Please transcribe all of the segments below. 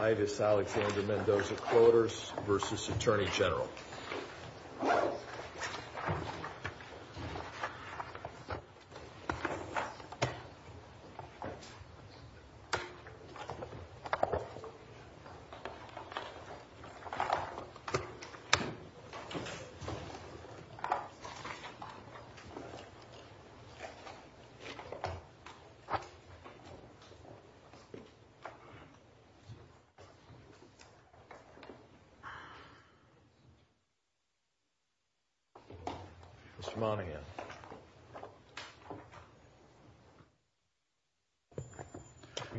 Ivis Alexander-Mendozavs voters versus Attorney General. Mr. Monahan.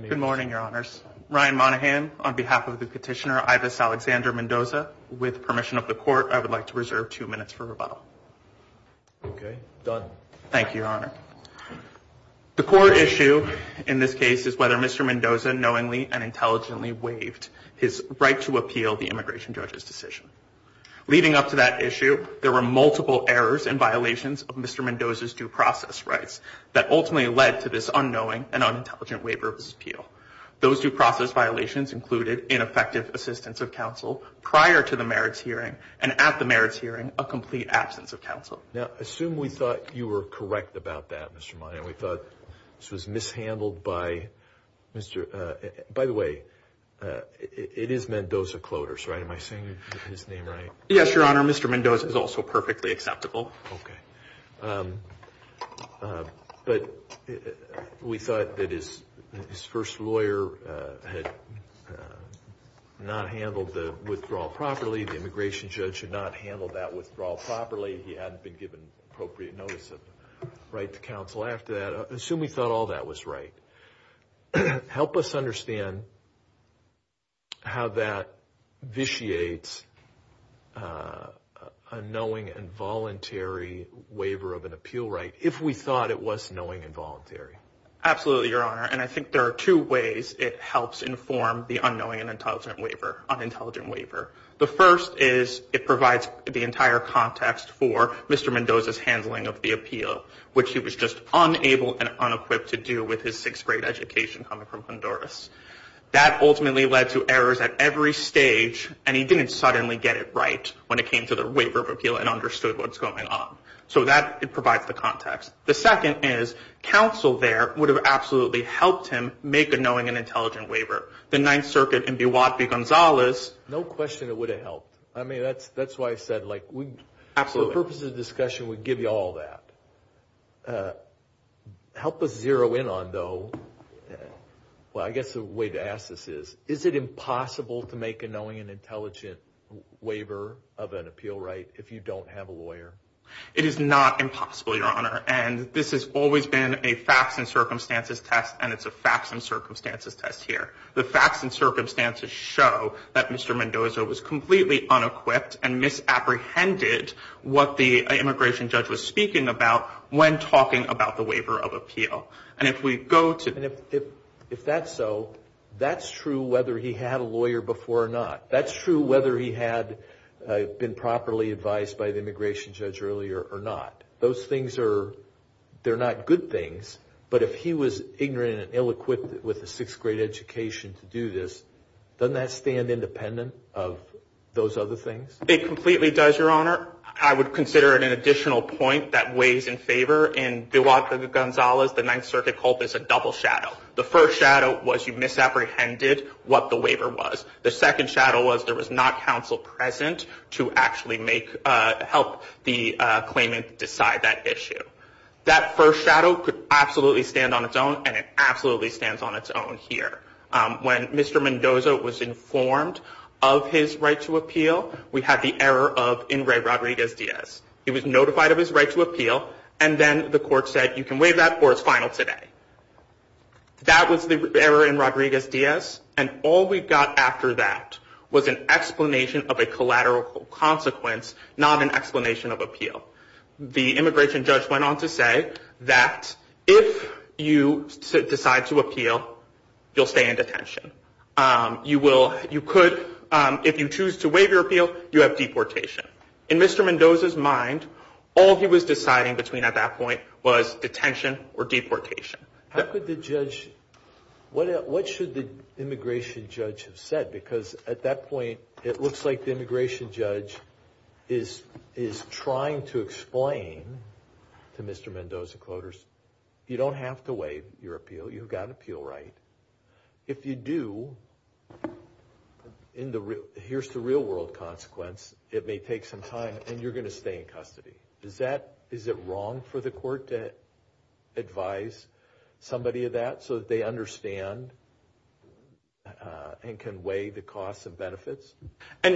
Good morning, Your Honors. Ryan Monahan on behalf of the petitioner Ivis Alexander-Mendoza. With permission of the court, I would like to reserve two minutes for rebuttal. Okay, done. Thank you, Your Honor. The court issue in this case is whether Mr. Mendoza knowingly and intelligently waived his right to appeal the immigration judge's decision. Leading up to that issue, there were multiple errors and violations of Mr. Mendoza's due process rights that ultimately led to this unknowing and unintelligent waiver of his appeal. Those due process violations included ineffective assistance of counsel prior to the merits hearing and at the merits hearing, a complete absence of counsel. Now, assume we thought you were correct about that, Mr. Monahan. We thought this was mishandled by Mr. By the way, it is Mendoza-Clotars, right? Am I saying his name right? Yes, Your Honor. Mr. Mendoza is also perfectly acceptable. Okay. But we thought that his first lawyer had not handled the withdrawal properly. The immigration judge had not handled that withdrawal properly. And we thought that his first lawyer had not handled the withdrawal properly. He hadn't been given appropriate notice of right to counsel after that. Assume we thought all that was right. Help us understand how that vitiates unknowing and voluntary waiver of an appeal right, if we thought it was knowing and voluntary. Absolutely, Your Honor. And I think there are two ways it helps inform the unknowing and unintelligent waiver. The first is it provides the entire context for the unknowing and unintelligent waiver. The second is it provides the entire context for Mr. Mendoza's handling of the appeal, which he was just unable and unequipped to do with his sixth-grade education coming from Honduras. That ultimately led to errors at every stage, and he didn't suddenly get it right when it came to the waiver of appeal and understood what's going on. So that, it provides the context. The second is counsel there would have absolutely helped him make a knowing and intelligent waiver. The Ninth Circuit in Biwate v. Gonzalez... This is a discussion that would give you all that. Help us zero in on, though... Well, I guess the way to ask this is, is it impossible to make a knowing and intelligent waiver of an appeal right if you don't have a lawyer? It is not impossible, Your Honor. And this has always been a facts and circumstances test, and it's a facts and circumstances test here. The facts and circumstances show that Mr. Mendoza was completely unequipped and misapprehended what the unknowing and unintelligent waiver was. And that's what the immigration judge was speaking about when talking about the waiver of appeal. And if we go to... And if that's so, that's true whether he had a lawyer before or not. That's true whether he had been properly advised by the immigration judge earlier or not. Those things are, they're not good things, but if he was ignorant and ill-equipped with a sixth-grade education to do this, doesn't that stand independent of those other things? It completely does, Your Honor. I would consider it an additional point that weighs in favor in DeWalt v. Gonzalez, the Ninth Circuit called this a double shadow. The first shadow was you misapprehended what the waiver was. The second shadow was there was not counsel present to actually help the claimant decide that issue. That first shadow could absolutely stand on its own, and it absolutely stands on its own here. When Mr. Mendoza was informed of his right to appeal, we had the error of Ingray Rodriguez-Diaz. He was notified of his right to appeal, and then the court said you can waive that or it's final today. That was the error in Rodriguez-Diaz, and all we got after that was an explanation of a collateral consequence, not an explanation of appeal. So the immigration judge went on to say that if you decide to appeal, you'll stay in detention. You could, if you choose to waive your appeal, you have deportation. In Mr. Mendoza's mind, all he was deciding between at that point was detention or deportation. How could the judge, what should the immigration judge have said? Because at that point, it looks like the immigration judge is trying to explain to Mr. Mendoza Cloders, you don't have to waive your appeal. You've got an appeal right. If you do, here's the real world consequence. It may take some time, and you're going to stay in custody. Is it wrong for the court to advise somebody of that so that they understand and can weigh the costs and benefits? And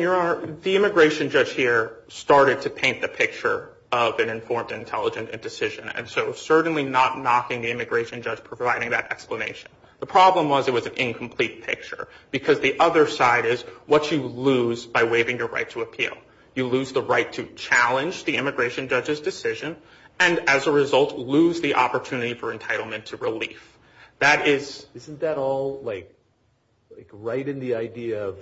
the immigration judge here started to paint the picture of an informed, intelligent decision, and so certainly not knocking the immigration judge providing that explanation. The problem was it was an incomplete picture, because the other side is what you lose by waiving your right to appeal. You lose the right to challenge the immigration judge's decision, and as a result, lose the opportunity for entitlement to relief. Isn't that all like right in the idea of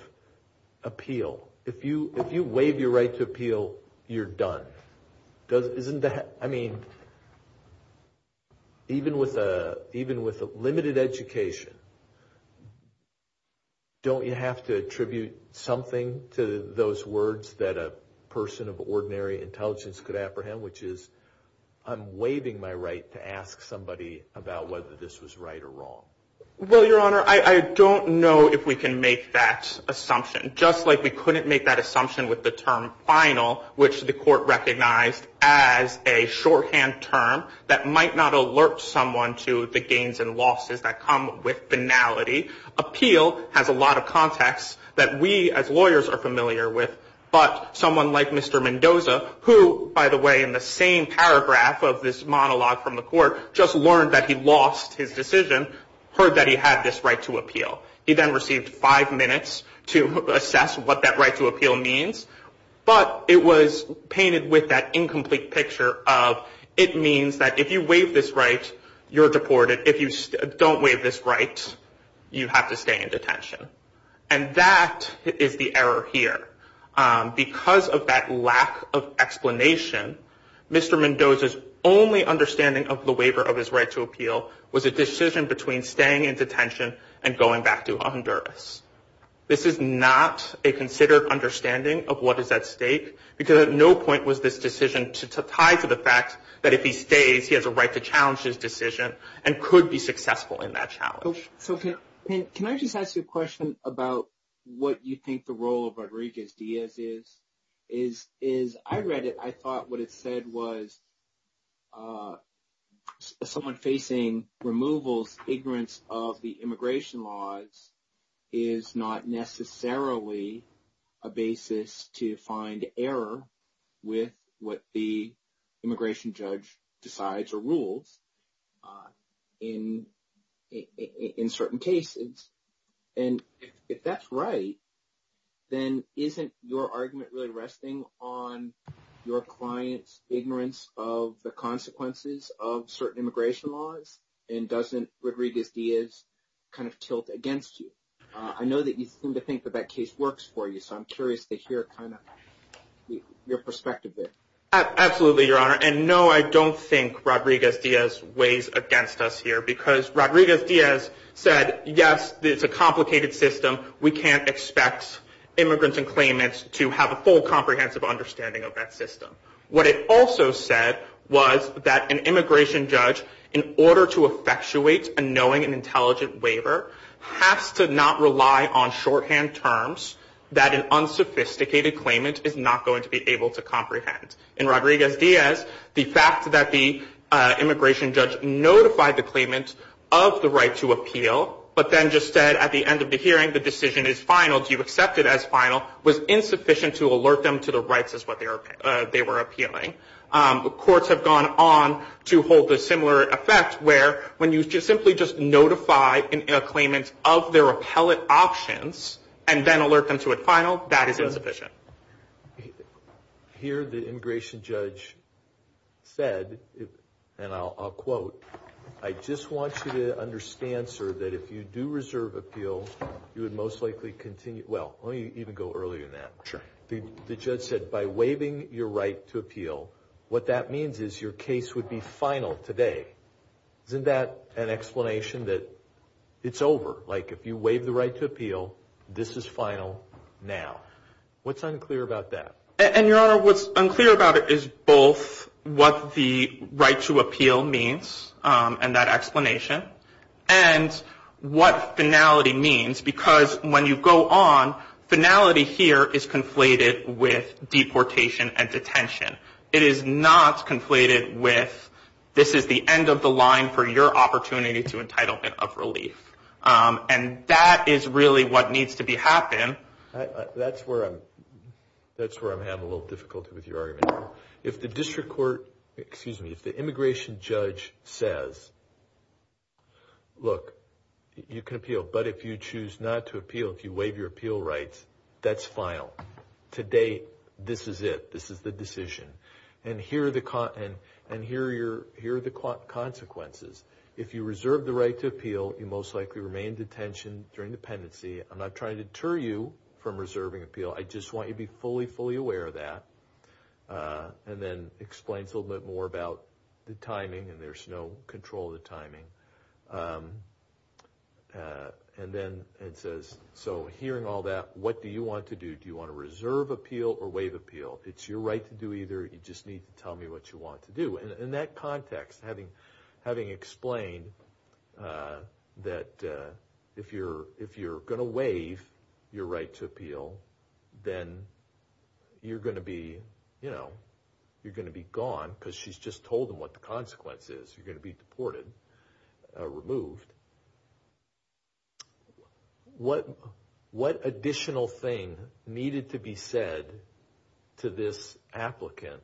appeal? If you waive your right to appeal, you're done. I mean, even with limited education, don't you have to attribute something to those words that a person of ordinary intelligence could apprehend, which is I'm waiving my right to ask somebody about whether this was right or wrong? Well, Your Honor, I don't know if we can make that assumption. Just like we couldn't make that assumption with the term final, which the court recognized as a shorthand term that might not alert someone to the gains and losses that come with finality, appeal has a lot of context that we as lawyers are familiar with. But someone like Mr. Mendoza, who, by the way, in the same paragraph of this monologue from the court, just learned that he lost his decision, heard that he had this right to appeal. He then received five minutes to assess what that right to appeal means. But it was painted with that incomplete picture of it means that if you waive this right, you're deported. If you don't waive this right, you have to stay in detention. And that is the error here. Because of that lack of explanation, Mr. Mendoza's only understanding of the waiver of his right to appeal was a decision between staying in detention and going back to Honduras. This is not a considered understanding of what is at stake, because at no point was this decision to tie to the fact that if he stays, he has a right to challenge his decision and could be successful in that challenge. So can I just ask you a question about what you think the role of Rodriguez-Diaz is? I read it, I thought what it said was someone facing removals, ignorance of the immigration laws, is not necessarily a basis to find error with what the immigration judge decides or rules in certain cases. And if that's right, then isn't your argument really resting on your client's ignorance of the consequences of certain immigration laws? And doesn't Rodriguez-Diaz kind of tilt against you? I know that you seem to think that that case works for you, so I'm curious to hear kind of your perspective there. Absolutely, Your Honor. And no, I don't think Rodriguez-Diaz weighs against us here, because Rodriguez-Diaz said, yes, it's a complicated system, we can't expect immigrants and claimants to have a full comprehensive understanding of that system. What it also said was that an immigration judge, in order to effectuate a knowing and intelligent waiver, has to not rely on shorthand terms that an unsophisticated claimant is not going to be able to comprehend. In Rodriguez-Diaz, the fact that the immigration judge notified the claimant of the right to appeal, but then just said at the end of the hearing the decision is final, do you accept it as final, was insufficient to alert them to the rights as to what they were appealing. Courts have gone on to hold a similar effect where when you simply just notify a claimant of their appellate options and then alert them to a final, that is insufficient. Here the immigration judge said, and I'll quote, I just want you to understand, sir, that if you do reserve appeal, you would most likely continue, well, let me even go earlier than that. Sure. The judge said by waiving your right to appeal, what that means is your case would be final today. Isn't that an explanation that it's over? Like if you waive the right to appeal, this is final now. What's unclear about that? And, Your Honor, what's unclear about it is both what the right to appeal means and that explanation and what finality means because when you go on, finality here is conflated with deportation and detention. It is not conflated with this is the end of the line for your opportunity to entitlement of relief. And that is really what needs to be happened. That's where I'm having a little difficulty with your argument. If the district court, excuse me, if the immigration judge says, look, you can appeal, but if you choose not to appeal, if you waive your appeal rights, that's final. To date, this is it. This is the decision. And here are the consequences. If you reserve the right to appeal, you most likely remain in detention during dependency. I'm not trying to deter you from reserving appeal. I just want you to be fully, fully aware of that. And then explain a little bit more about the timing. And there's no control of the timing. And then it says, so hearing all that, what do you want to do? Do you want to reserve appeal or waive appeal? It's your right to do either. You just need to tell me what you want to do. In that context, having explained that if you're going to waive your right to appeal, then you're going to be gone because she's just told them what the consequence is. You're going to be deported, removed. What additional thing needed to be said to this applicant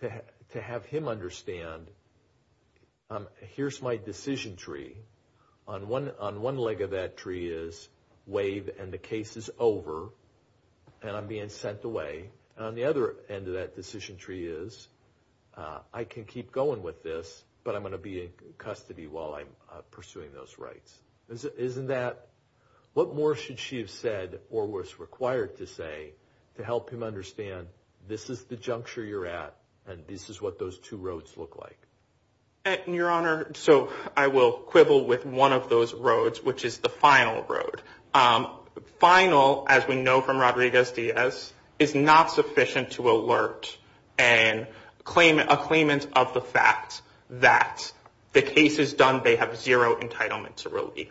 to have him understand, here's my decision tree. On one leg of that tree is waive and the case is over, and I'm being sent away. And on the other end of that decision tree is, I can keep going with this, but I'm going to be in custody while I'm pursuing those rights. What more should she have said or was required to say to help him understand, this is the juncture you're at and this is what those two roads look like? Your Honor, so I will quibble with one of those roads, which is the final road. Final, as we know from Rodriguez-Diaz, is not sufficient to alert a claimant of the fact that the case is done, they have zero entitlement to relief.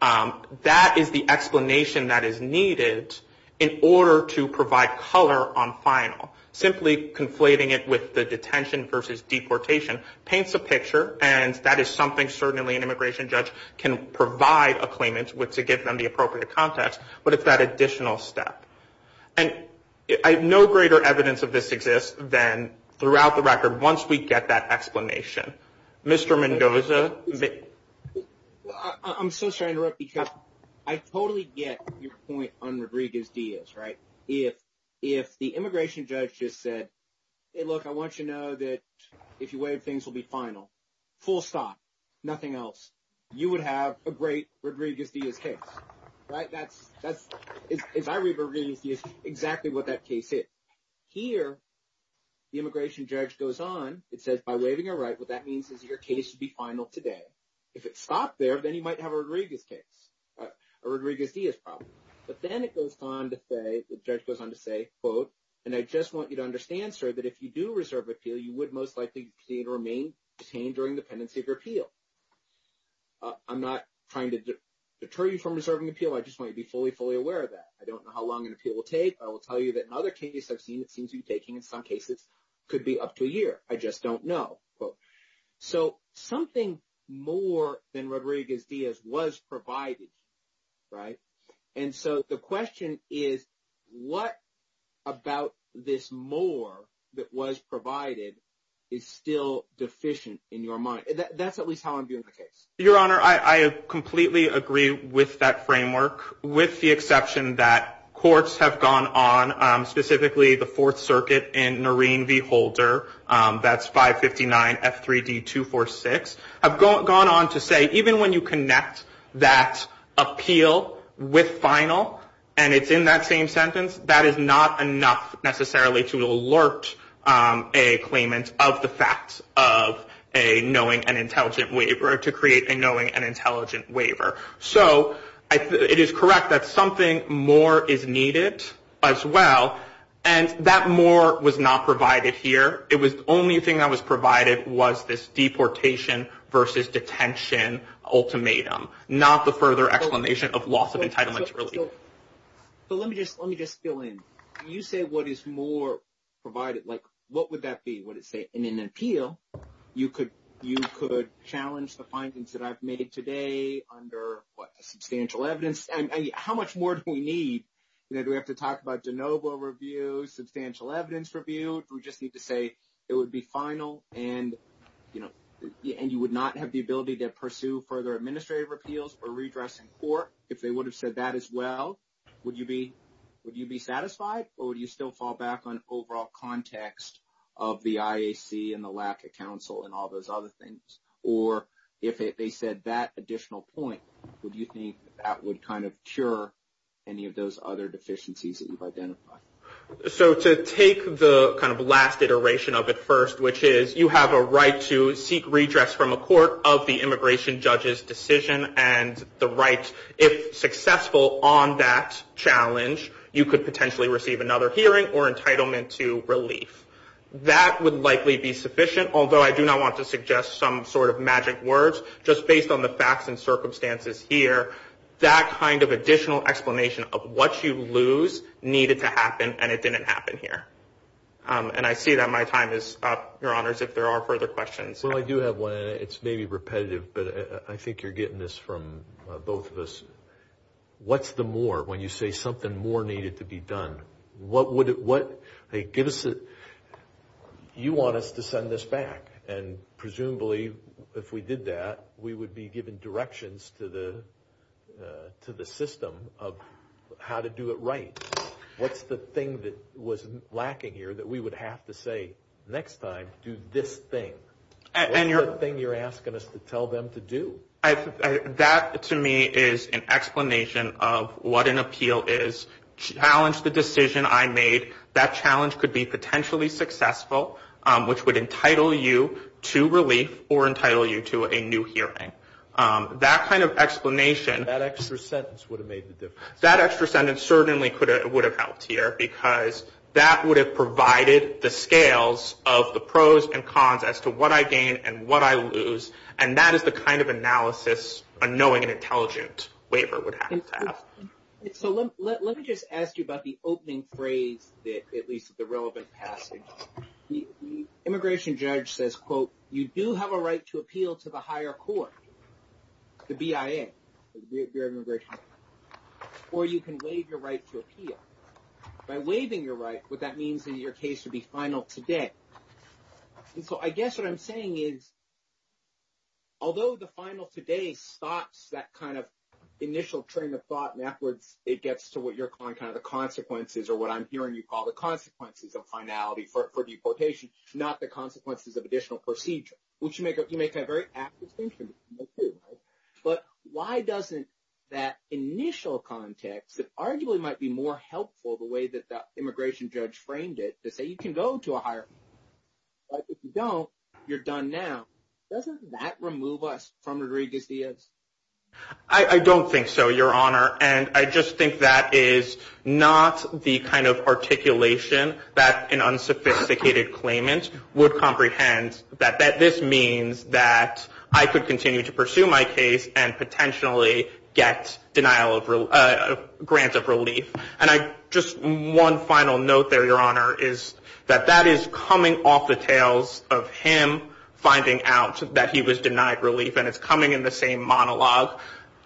That is the explanation that is needed in order to provide color on final. Simply conflating it with the detention versus deportation paints a picture, and that is something certainly an immigration judge can provide a claimant with to give them the appropriate context, but it's that additional step. And no greater evidence of this exists than throughout the record, once we get that explanation. Mr. Mendoza? I'm so sorry to interrupt, because I totally get your point on Rodriguez-Diaz, right? If the immigration judge just said, hey, look, I want you to know that if you waive, things will be final, full stop, nothing else, you would have a great Rodriguez-Diaz case, right? That's, as I read Rodriguez-Diaz, exactly what that case is. Here, the immigration judge goes on, it says by waiving a right, what that means is your case should be final today. If it stopped there, then you might have a Rodriguez case, a Rodriguez-Diaz problem. But then it goes on to say, the judge goes on to say, quote, and I just want you to understand, sir, that if you do reserve appeal, you would most likely remain detained during the pendency of your appeal. I'm not trying to deter you from reserving appeal. I just want you to be fully, fully aware of that. I don't know how long an appeal will take. I will tell you that in other cases I've seen it seems to be taking, in some cases, could be up to a year. I just don't know, quote. So something more than Rodriguez-Diaz was provided, right? And so the question is, what about this more that was provided is still deficient in your mind? That's at least how I'm viewing the case. Your Honor, I completely agree with that framework, with the exception that courts have gone on, specifically the Fourth Circuit and Noreen V. Holder, that's 559 F3D246, have gone on to say, even when you connect that appeal with final and it's in that same sentence, that is not enough necessarily to alert a claimant of the fact of a knowing and intelligent waiver or to create a knowing and intelligent waiver. So it is correct that something more is needed as well, and that more was not provided here. It was the only thing that was provided was this deportation versus detention ultimatum, not the further explanation of loss of entitlement to relief. So let me just fill in. When you say what is more provided, like what would that be? Would it say in an appeal you could challenge the findings that I've made today under, what, substantial evidence? How much more do we need? Do we have to talk about de novo review, substantial evidence review? Do we just need to say it would be final and, you know, and you would not have the ability to pursue further administrative repeals or redress in court? If they would have said that as well, would you be satisfied? Or would you still fall back on overall context of the IAC and the lack of counsel and all those other things? Or if they said that additional point, would you think that would kind of cure any of those other deficiencies that you've identified? So to take the kind of last iteration of it first, which is you have a right to seek redress from a court of the immigration judge's decision and the right, if successful on that challenge, you could potentially receive another hearing or entitlement to relief. That would likely be sufficient, although I do not want to suggest some sort of magic words. Just based on the facts and circumstances here, that kind of additional explanation of what you lose needed to happen, and it didn't happen here. And I see that my time is up, Your Honors, if there are further questions. Well, I do have one, and it's maybe repetitive, but I think you're getting this from both of us. What's the more when you say something more needed to be done? What would it, what, hey, give us a, you want us to send this back. And presumably, if we did that, we would be given directions to the system of how to do it right. What's the thing that was lacking here that we would have to say next time, do this thing? What's the thing you're asking us to tell them to do? That, to me, is an explanation of what an appeal is. Challenge the decision I made. That challenge could be potentially successful, which would entitle you to relief or entitle you to a new hearing. That kind of explanation. That extra sentence would have made the difference. That extra sentence certainly would have helped here, because that would have provided the scales of the pros and cons as to what I gain and what I lose, and that is the kind of analysis a knowing and intelligent waiver would have to have. So let me just ask you about the opening phrase, at least the relevant passage. The immigration judge says, quote, you do have a right to appeal to the higher court, the BIA, the Bureau of Immigration. Or you can waive your right to appeal. By waiving your right, what that means in your case would be final today. So I guess what I'm saying is, although the final today stops that kind of initial train of thought and afterwards it gets to what you're calling kind of the consequences or what I'm hearing you call the consequences of finality for deportation, not the consequences of additional procedure, which you make a very apt distinction between the two, right? But why doesn't that initial context, that arguably might be more helpful the way that the immigration judge framed it, to say you can go to a higher court, but if you don't, you're done now. Doesn't that remove us from Rodriguez-Diaz? I don't think so, Your Honor, and I just think that is not the kind of articulation that an unsophisticated claimant would comprehend, that this means that I could continue to pursue my case and potentially get denial of, grant of relief. And I, just one final note there, Your Honor, is that that is coming off the tails of him finding out that he was denied relief, and it's coming in the same monologue.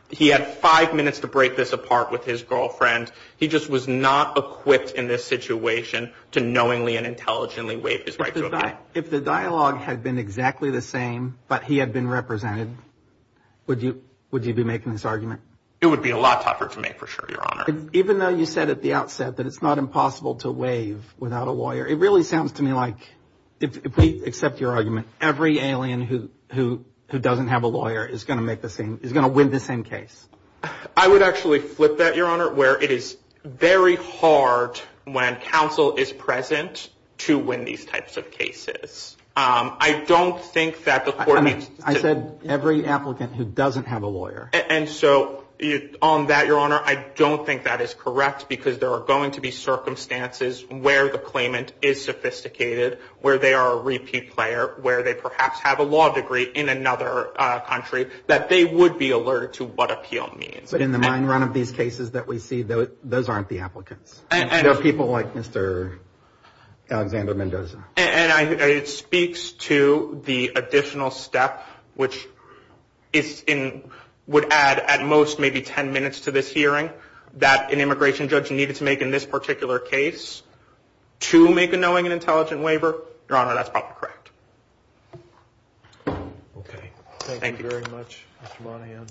He had five minutes to break this apart with his girlfriend. He just was not equipped in this situation to knowingly and intelligently waive his right to appeal. If the dialogue had been exactly the same, but he had been represented, would you be making this argument? It would be a lot tougher to make, for sure, Your Honor. Even though you said at the outset that it's not impossible to waive without a lawyer, it really sounds to me like, if we accept your argument, every alien who doesn't have a lawyer is going to win the same case. I would actually flip that, Your Honor, where it is very hard when counsel is present to win these types of cases. I don't think that the court needs to – I said every applicant who doesn't have a lawyer. And so on that, Your Honor, I don't think that is correct because there are going to be circumstances where the claimant is sophisticated, where they are a repeat player, where they perhaps have a law degree in another country, that they would be alerted to what appeal means. But in the mind run of these cases that we see, those aren't the applicants. They're people like Mr. Alexander Mendoza. And it speaks to the additional step, which would add at most maybe ten minutes to this hearing, that an immigration judge needed to make in this particular case to make a knowing and intelligent waiver. Your Honor, that's probably correct. Thank you. Thank you very much, Mr. Monahan.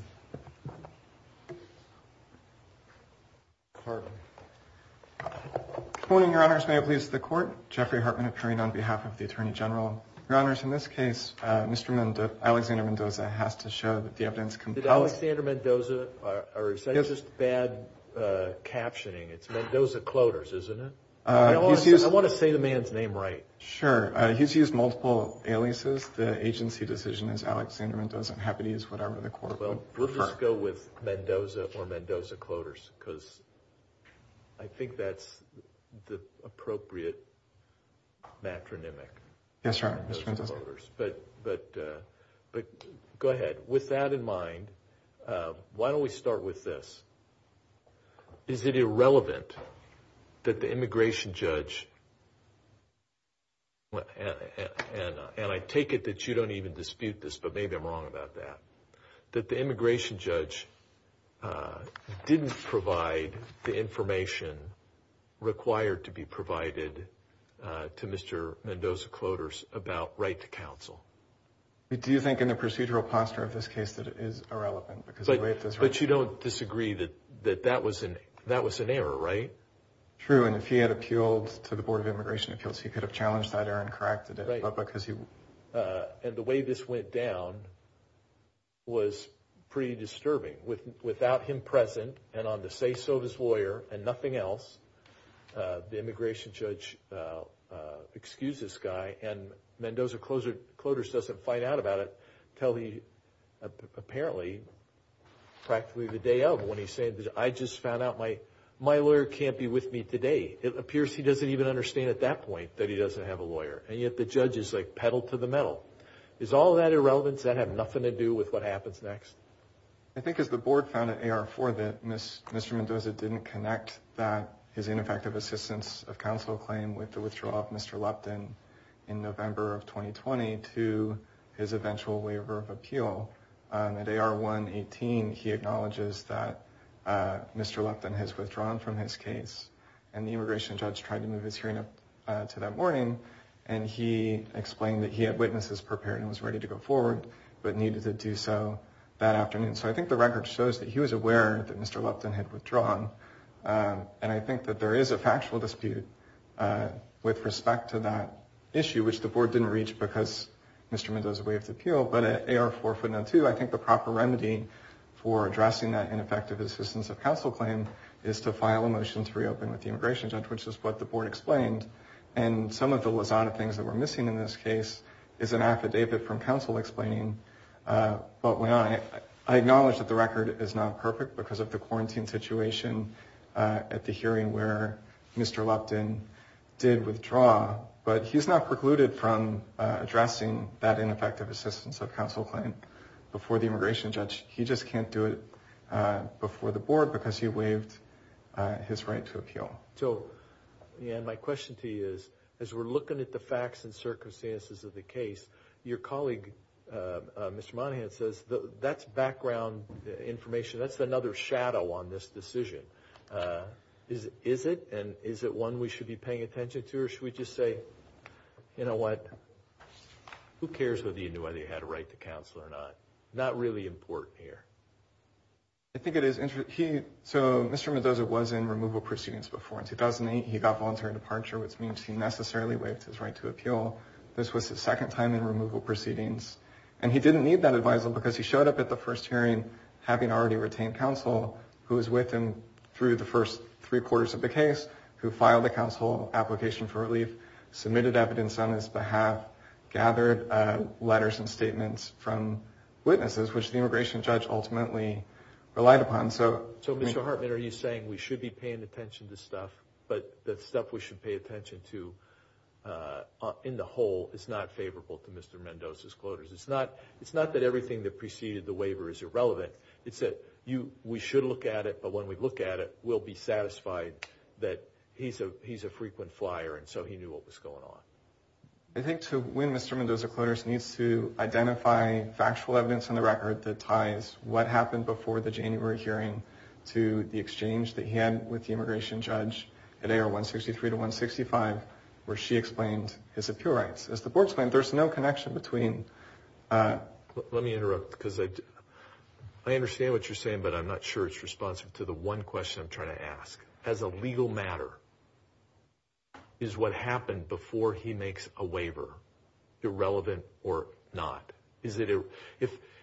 Good morning, Your Honors. May it please the Court. Jeffrey Hartman appearing on behalf of the Attorney General. Your Honors, in this case, Mr. Alexander Mendoza has to show that the evidence compelling – Is it Alexander Mendoza or is that just bad captioning? It's Mendoza-Cloters, isn't it? I want to say the man's name right. Sure. He's used multiple aliases. The agency decision is Alexander Mendoza. I'm happy to use whatever the Court would prefer. We'll just go with Mendoza or Mendoza-Cloters because I think that's the appropriate matronymic. Yes, Your Honor. Mr. Mendoza. But go ahead. With that in mind, why don't we start with this. Is it irrelevant that the immigration judge – and I take it that you don't even dispute this, but maybe I'm wrong about that – that the immigration judge didn't provide the information required to be provided to Mr. Mendoza-Cloters about right to counsel? Do you think in the procedural posture of this case that it is irrelevant? But you don't disagree that that was an error, right? True, and if he had appealed to the Board of Immigration Appeals, he could have challenged that error and corrected it. And the way this went down was pretty disturbing. Without him present and on the say-so of his lawyer and nothing else, the immigration judge excused this guy and Mendoza-Cloters doesn't find out about it until apparently practically the day of when he's saying, I just found out my lawyer can't be with me today. It appears he doesn't even understand at that point that he doesn't have a lawyer. And yet the judge is like pedal to the metal. Is all that irrelevant? Does that have nothing to do with what happens next? I think as the Board found at AR-4 that Mr. Mendoza didn't connect his ineffective assistance of counsel claim with the withdrawal of Mr. Lupton in November of 2020 to his eventual waiver of appeal. At AR-118, he acknowledges that Mr. Lupton has withdrawn from his case. And the immigration judge tried to move his hearing up to that morning. And he explained that he had witnesses prepared and was ready to go forward, but needed to do so that afternoon. So I think the record shows that he was aware that Mr. Lupton had withdrawn. And I think that there is a factual dispute with respect to that issue, which the Board didn't reach because Mr. Mendoza waived appeal. But at AR-402, I think the proper remedy for addressing that ineffective assistance of counsel claim is to file a motion to reopen with the immigration judge, which is what the Board explained. And some of the lasagna things that were missing in this case is an affidavit from counsel explaining. But I acknowledge that the record is not perfect because of the quarantine situation at the hearing where Mr. Lupton did withdraw. But he's not precluded from addressing that ineffective assistance of counsel claim before the immigration judge. He just can't do it before the Board because he waived his right to appeal. So, again, my question to you is, as we're looking at the facts and circumstances of the case, your colleague, Mr. Monahan, says that's background information. That's another shadow on this decision. Is it? And is it one we should be paying attention to? Or should we just say, you know what, who cares whether you knew whether you had a right to counsel or not? Not really important here. I think it is. So Mr. Mendoza was in removal proceedings before. In 2008, he got voluntary departure, which means he necessarily waived his right to appeal. This was the second time in removal proceedings. And he didn't need that advisal because he showed up at the first hearing having already retained counsel, who was with him through the first three quarters of the case, who filed a counsel application for relief, submitted evidence on his behalf, gathered letters and statements from witnesses, which the immigration judge ultimately relied upon. So, Mr. Hartman, are you saying we should be paying attention to stuff, but the stuff we should pay attention to in the whole is not favorable to Mr. Mendoza's quotas? It's not that everything that preceded the waiver is irrelevant. It's that we should look at it, but when we look at it, we'll be satisfied that he's a frequent flyer, and so he knew what was going on. I think to win Mr. Mendoza quotas needs to identify factual evidence on the record that ties what happened before the January hearing to the exchange that he had with the immigration judge at AR 163 to 165, where she explained his appeal rights. As the board explained, there's no connection between... Let me interrupt because I understand what you're saying, but I'm not sure it's responsive to the one question I'm trying to ask. Do you think as a legal matter is what happened before he makes a waiver irrelevant or not?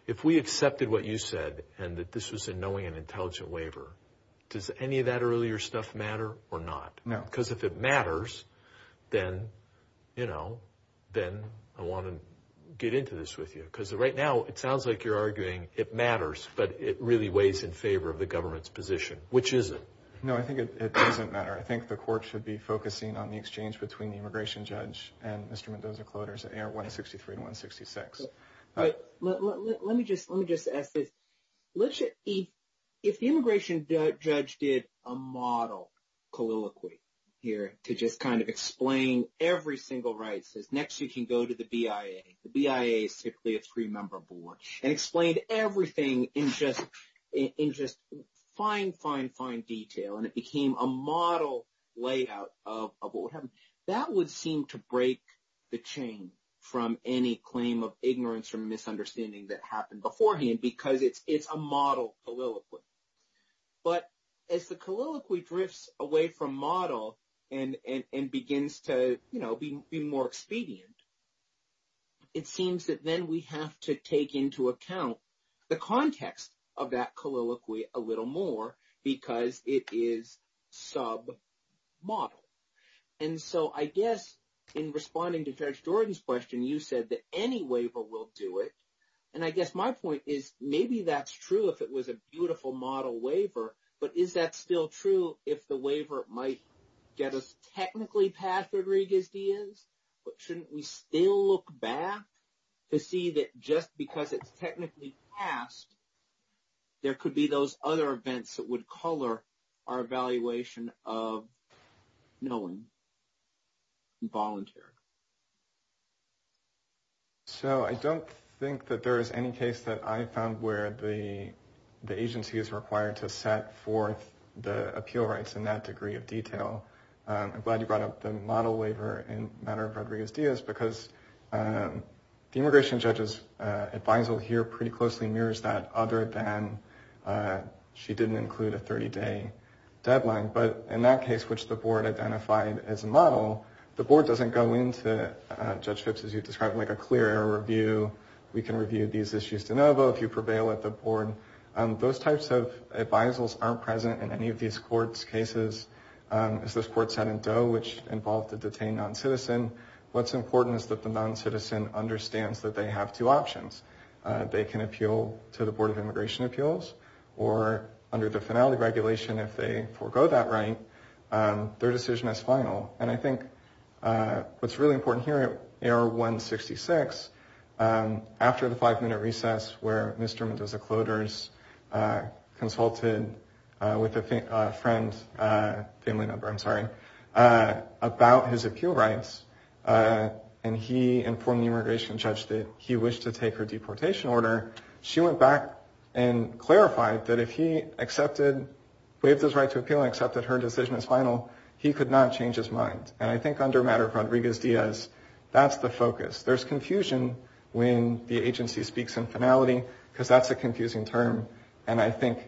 If we accepted what you said and that this was a knowing and intelligent waiver, does any of that earlier stuff matter or not? No. Because if it matters, then I want to get into this with you, because right now it sounds like you're arguing it matters, but it really weighs in favor of the government's position, which is it? No, I think it doesn't matter. I think the court should be focusing on the exchange between the immigration judge and Mr. Mendoza quotas at AR 163 to 166. Let me just ask this. If the immigration judge did a model colloquy here to just kind of explain every single right, says next you can go to the BIA, the BIA is typically a three-member board, and explained everything in just fine, fine, fine detail, and it became a model layout of what would happen, that would seem to break the chain from any claim of ignorance or misunderstanding that happened beforehand, because it's a model colloquy. But as the colloquy drifts away from model and begins to be more expedient, it seems that then we have to take into account the context of that colloquy a little more, because it is sub-model. And so I guess in responding to Judge Jordan's question, you said that any waiver will do it. And I guess my point is maybe that's true if it was a beautiful model waiver, but is that still true if the waiver might get us technically past Rodriguez-Diaz? But shouldn't we still look back to see that just because it's technically past, there could be those other events that would color our evaluation of knowing and volunteering? So I don't think that there is any case that I found where the agency is required to set forth the appeal rights in that degree of detail. I'm glad you brought up the model waiver in the matter of Rodriguez-Diaz, because the immigration judge's advisal here pretty closely mirrors that, other than she didn't include a 30-day deadline. But in that case, which the board identified as a model, the board doesn't go into, Judge Phipps, as you've described, like a clear air review. We can review these issues de novo if you prevail at the board. Those types of advisals aren't present in any of these courts' cases. As this court said in Doe, which involved a detained non-citizen, what's important is that the non-citizen understands that they have two options. They can appeal to the Board of Immigration Appeals, or under the finality regulation, if they forego that right, their decision is final. And I think what's really important here at AR-166, after the five-minute recess where Mr. Mendoza-Clotars consulted with a friend, family member, I'm sorry, about his appeal rights, and he informed the immigration judge that he wished to take her deportation order, she went back and clarified that if he accepted, waived his right to appeal and accepted her decision as final, he could not change his mind. And I think under the matter of Rodriguez-Diaz, that's the focus. There's confusion when the agency speaks in finality, because that's a confusing term. And I think,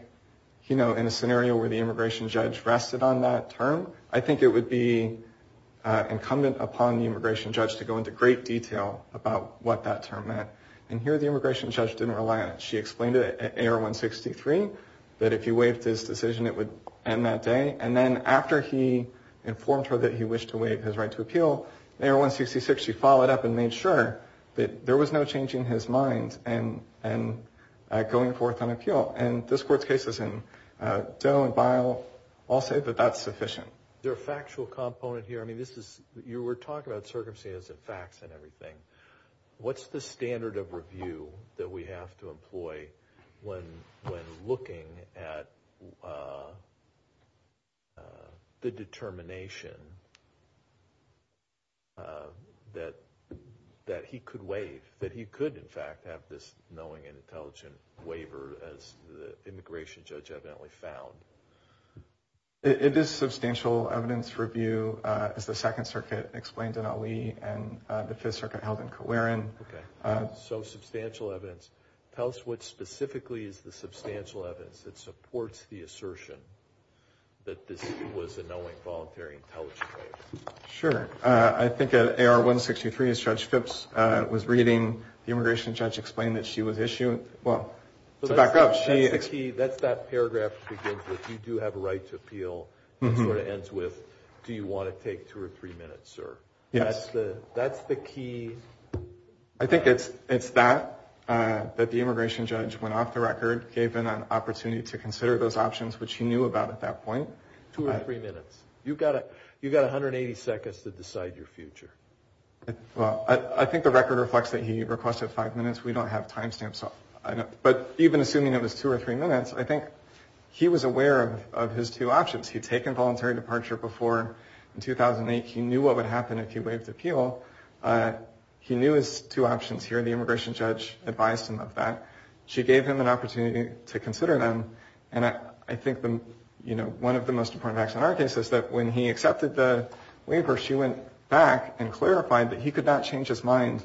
you know, in a scenario where the immigration judge rested on that term, I think it would be incumbent upon the immigration judge to go into great detail about what that term meant. And here the immigration judge didn't rely on it. She explained it at AR-163, that if he waived his decision, it would end that day. And then after he informed her that he wished to waive his right to appeal, AR-166, she followed up and made sure that there was no change in his mind and going forth on appeal. And this Court's cases in Doe and Bile all say that that's sufficient. Is there a factual component here? I mean, you were talking about circumstances and facts and everything. What's the standard of review that we have to employ when looking at the determination that he could waive, that he could, in fact, have this knowing and intelligent waiver, as the immigration judge evidently found? It is substantial evidence review, as the Second Circuit explained in Ali and the Fifth Circuit held in Kowarin. Okay. So substantial evidence. Tell us what specifically is the substantial evidence that supports the assertion that this was a knowing, voluntary, intelligent waiver? Sure. I think at AR-163, as Judge Phipps was reading, the immigration judge explained that she was issued. Well, to back up, she— That's the key. That's that paragraph that begins with, you do have a right to appeal, and sort of ends with, do you want to take two or three minutes, sir? Yes. That's the key. I think it's that, that the immigration judge, when off the record, gave him an opportunity to consider those options, which he knew about at that point. Two or three minutes. You've got 180 seconds to decide your future. Well, I think the record reflects that he requested five minutes. We don't have time stamps. But even assuming it was two or three minutes, I think he was aware of his two options. He'd taken voluntary departure before in 2008. He knew what would happen if he waived appeal. He knew his two options here, and the immigration judge advised him of that. She gave him an opportunity to consider them, and I think one of the most important facts in our case is that when he accepted the waiver, she went back and clarified that he could not change his mind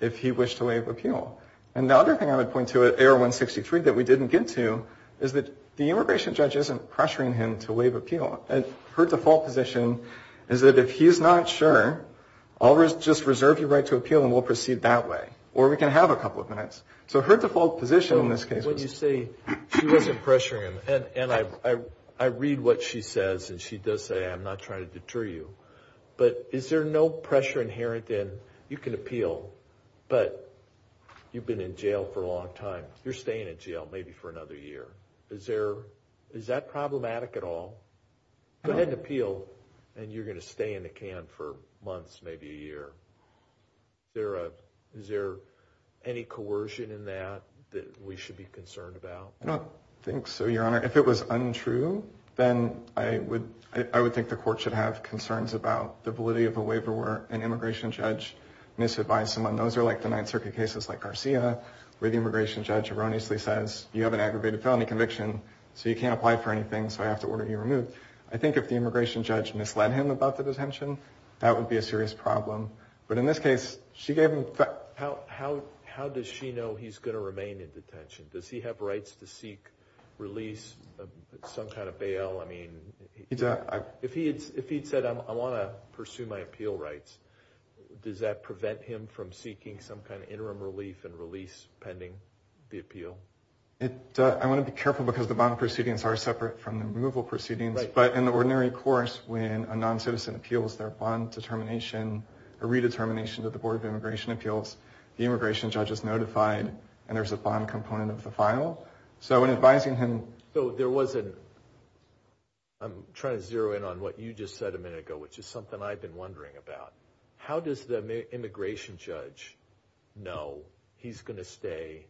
if he wished to waive appeal. And the other thing I would point to at AR-163 that we didn't get to is that the immigration judge isn't pressuring him to waive appeal. Her default position is that if he's not sure, I'll just reserve your right to appeal and we'll proceed that way. Or we can have a couple of minutes. So her default position in this case was... When you say she wasn't pressuring him, and I read what she says, and she does say, I'm not trying to deter you, but is there no pressure inherent in, you can appeal, but you've been in jail for a long time. You're staying in jail maybe for another year. Is that problematic at all? Go ahead and appeal, and you're going to stay in the can for months, maybe a year. Is there any coercion in that that we should be concerned about? I don't think so, Your Honor. If it was untrue, then I would think the court should have concerns about the validity of a waiver where an immigration judge misadvised someone. Those are like the Ninth Circuit cases like Garcia, where the immigration judge erroneously says, you have an aggravated felony conviction, so you can't apply for anything, so I have to order you removed. I think if the immigration judge misled him about the detention, that would be a serious problem. But in this case, she gave him— How does she know he's going to remain in detention? Does he have rights to seek release, some kind of bail? If he had said, I want to pursue my appeal rights, does that prevent him from seeking some kind of interim relief and release pending the appeal? I want to be careful because the bond proceedings are separate from the removal proceedings. But in the ordinary course, when a noncitizen appeals, their bond determination, a redetermination to the Board of Immigration Appeals, the immigration judge is notified, and there's a bond component of the file. So in advising him— So there was a—I'm trying to zero in on what you just said a minute ago, which is something I've been wondering about. How does the immigration judge know he's going to stay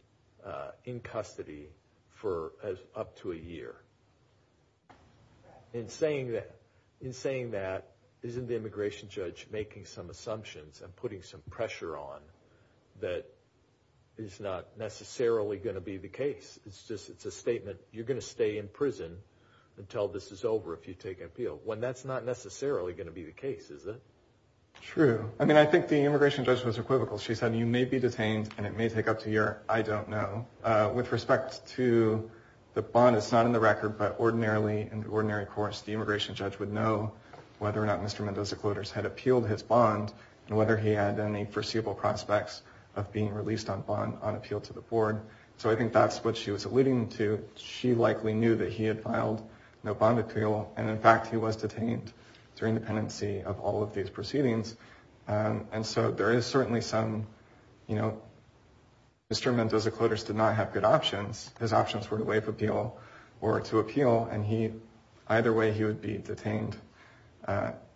in custody for up to a year? In saying that, isn't the immigration judge making some assumptions and putting some pressure on that is not necessarily going to be the case? It's a statement, you're going to stay in prison until this is over if you take appeal, when that's not necessarily going to be the case, is it? True. I mean, I think the immigration judge was equivocal. She said, you may be detained and it may take up to a year. I don't know. With respect to the bond, it's not in the record, but ordinarily, in the ordinary course, the immigration judge would know whether or not Mr. Mendoza-Clotas had appealed his bond and whether he had any foreseeable prospects of being released on appeal to the board. So I think that's what she was alluding to. She likely knew that he had filed no bond appeal, and in fact he was detained through independency of all of these proceedings. And so there is certainly some, you know, Mr. Mendoza-Clotas did not have good options. His options were to waive appeal or to appeal, and either way he would be detained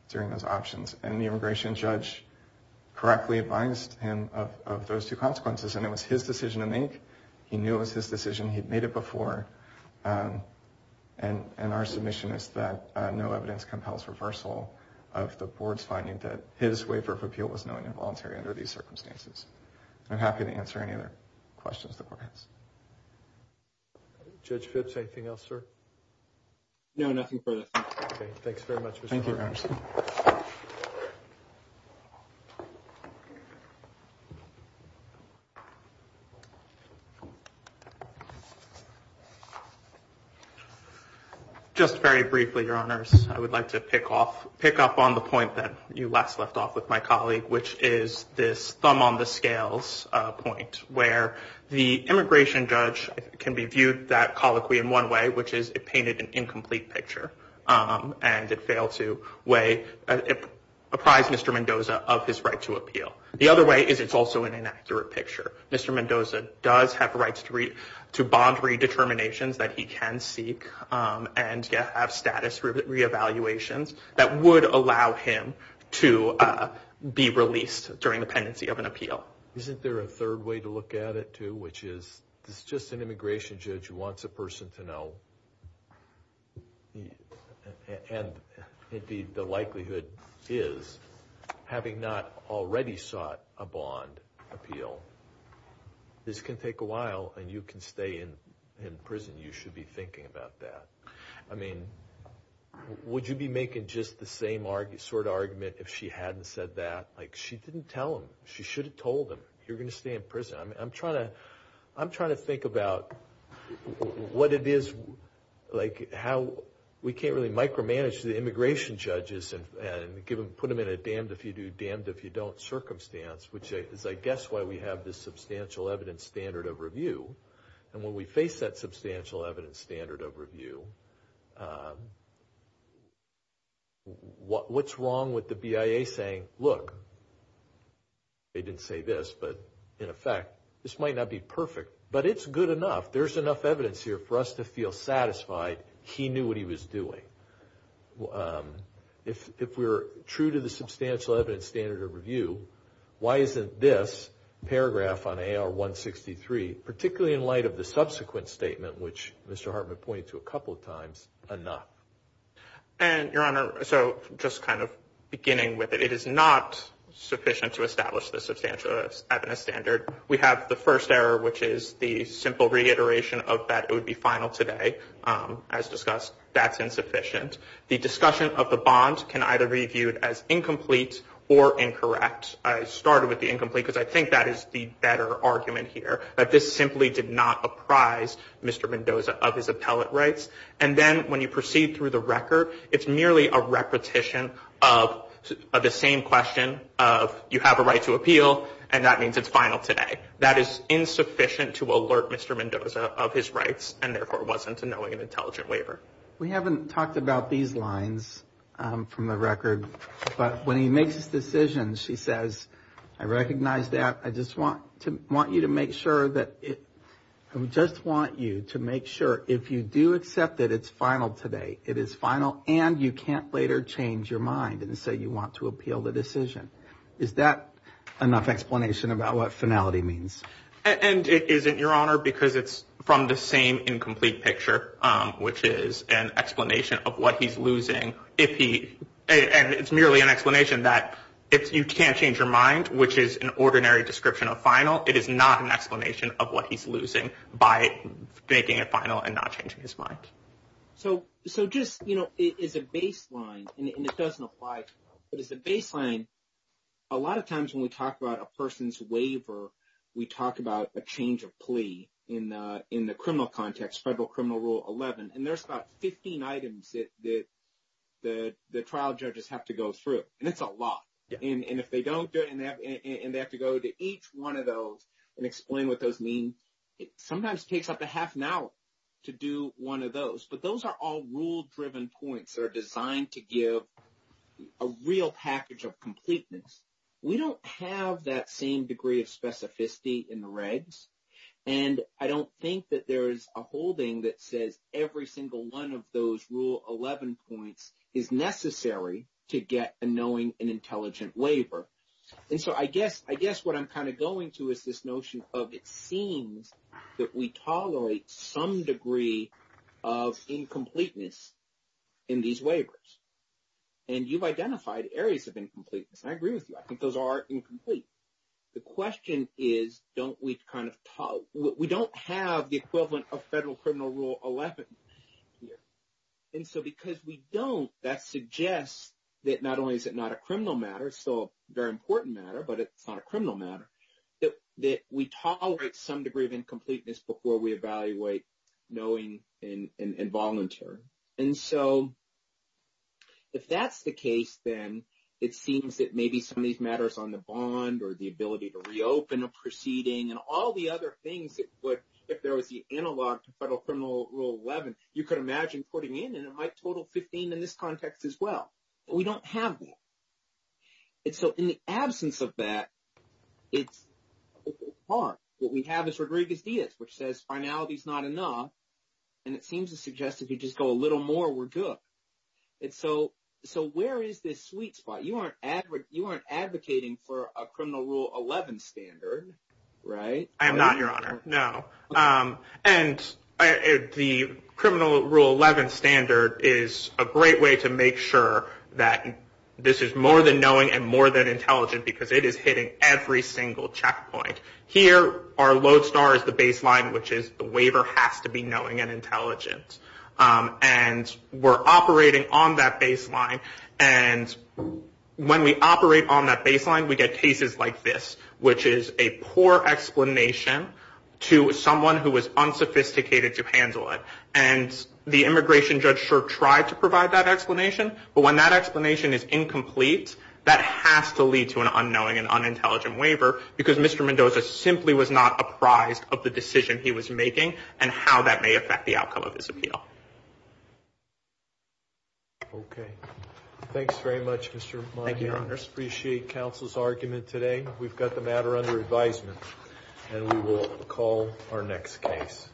during those options. And the immigration judge correctly advised him of those two consequences, and it was his decision to make. He knew it was his decision. He'd made it before. And our submission is that no evidence compels reversal of the board's finding that his waiver of appeal was known involuntary under these circumstances. I'm happy to answer any other questions the board has. Judge Phipps, anything else, sir? No, nothing further. Okay, thanks very much, Mr. Anderson. Thank you. Just very briefly, Your Honors, I would like to pick up on the point that you last left off with my colleague, which is this thumb-on-the-scales point where the immigration judge can be viewed that colloquy in one way, which is it painted an incomplete picture, and it failed to apprise Mr. Mendoza of his right to appeal. The other way is it's also an inaccurate picture. Mr. Mendoza does have rights to bond redeterminations that he can seek and have status reevaluations that would allow him to be released during the pendency of an appeal. Isn't there a third way to look at it, too, which is just an immigration judge who wants a person to know, and the likelihood is, having not already sought a bond appeal, this can take a while and you can stay in prison. You should be thinking about that. I mean, would you be making just the same sort of argument if she hadn't said that? Like, she didn't tell him. She should have told him, you're going to stay in prison. I'm trying to think about what it is, like, how we can't really micromanage the immigration judges and put them in a damned-if-you-do, damned-if-you-don't circumstance, which is, I guess, why we have this substantial evidence standard of review. And when we face that substantial evidence standard of review, what's wrong with the BIA saying, look, they didn't say this, but, in effect, this might not be perfect, but it's good enough. There's enough evidence here for us to feel satisfied he knew what he was doing. If we're true to the substantial evidence standard of review, why isn't this paragraph on AR163, particularly in light of the subsequent statement, which Mr. Hartman pointed to a couple of times, enough? And, Your Honor, so just kind of beginning with it, it is not sufficient to establish the substantial evidence standard. We have the first error, which is the simple reiteration of that it would be final today. As discussed, that's insufficient. The discussion of the bond can either be viewed as incomplete or incorrect. I started with the incomplete because I think that is the better argument here, that this simply did not apprise Mr. Mendoza of his appellate rights. And then when you proceed through the record, it's merely a repetition of the same question of you have a right to appeal, and that means it's final today. That is insufficient to alert Mr. Mendoza of his rights and, therefore, wasn't knowing an intelligent waiver. We haven't talked about these lines from the record, but when he makes his decision, she says, I recognize that. I just want you to make sure that if you do accept that it's final today, it is final, and you can't later change your mind and say you want to appeal the decision. Is that enough explanation about what finality means? And is it, Your Honor, because it's from the same incomplete picture, which is an explanation of what he's losing, and it's merely an explanation that if you can't change your mind, which is an ordinary description of final, it is not an explanation of what he's losing by making it final and not changing his mind. So just as a baseline, and it doesn't apply, but as a baseline, a lot of times when we talk about a person's waiver, we talk about a change of plea in the criminal context, Federal Criminal Rule 11, and there's about 15 items that the trial judges have to go through, and it's a lot. And if they don't do it and they have to go to each one of those and explain what those mean, it sometimes takes up a half an hour to do one of those. But those are all rule-driven points that are designed to give a real package of completeness. We don't have that same degree of specificity in the regs, and I don't think that there is a holding that says every single one of those Rule 11 points is necessary to get a knowing and intelligent waiver. And so I guess what I'm kind of going to is this notion of it seems that we tolerate some degree of incompleteness in these waivers. And you've identified areas of incompleteness, and I agree with you. I think those are incomplete. The question is, don't we kind of talk, we don't have the equivalent of Federal Criminal Rule 11 here. And so because we don't, that suggests that not only is it not a criminal matter, it's still a very important matter, but it's not a criminal matter, that we tolerate some degree of incompleteness before we evaluate knowing and voluntary. And so if that's the case, then it seems that maybe some of these matters on the bond or the ability to reopen a proceeding and all the other things that would, if there was the analog to Federal Criminal Rule 11, you could imagine putting in, and it might total 15 in this context as well. But we don't have that. And so in the absence of that, it's hard. What we have is Rodriguez-Diaz, which says finality is not enough. And it seems to suggest if you just go a little more, we're good. And so where is this sweet spot? You aren't advocating for a Criminal Rule 11 standard, right? I am not, Your Honor, no. And the Criminal Rule 11 standard is a great way to make sure that this is more than knowing and more than intelligent because it is hitting every single checkpoint. Here, our lodestar is the baseline, which is the waiver has to be knowing and intelligent. And we're operating on that baseline. And when we operate on that baseline, we get cases like this, which is a poor explanation to someone who was unsophisticated to handle it. And the immigration judge sure tried to provide that explanation, but when that explanation is incomplete, that has to lead to an unknowing and unintelligent waiver because Mr. Mendoza simply was not apprised of the decision he was making and how that may affect the outcome of his appeal. Okay. Thanks very much, Mr. Mahin. I appreciate counsel's argument today. We've got the matter under advisement, and we will call our next case.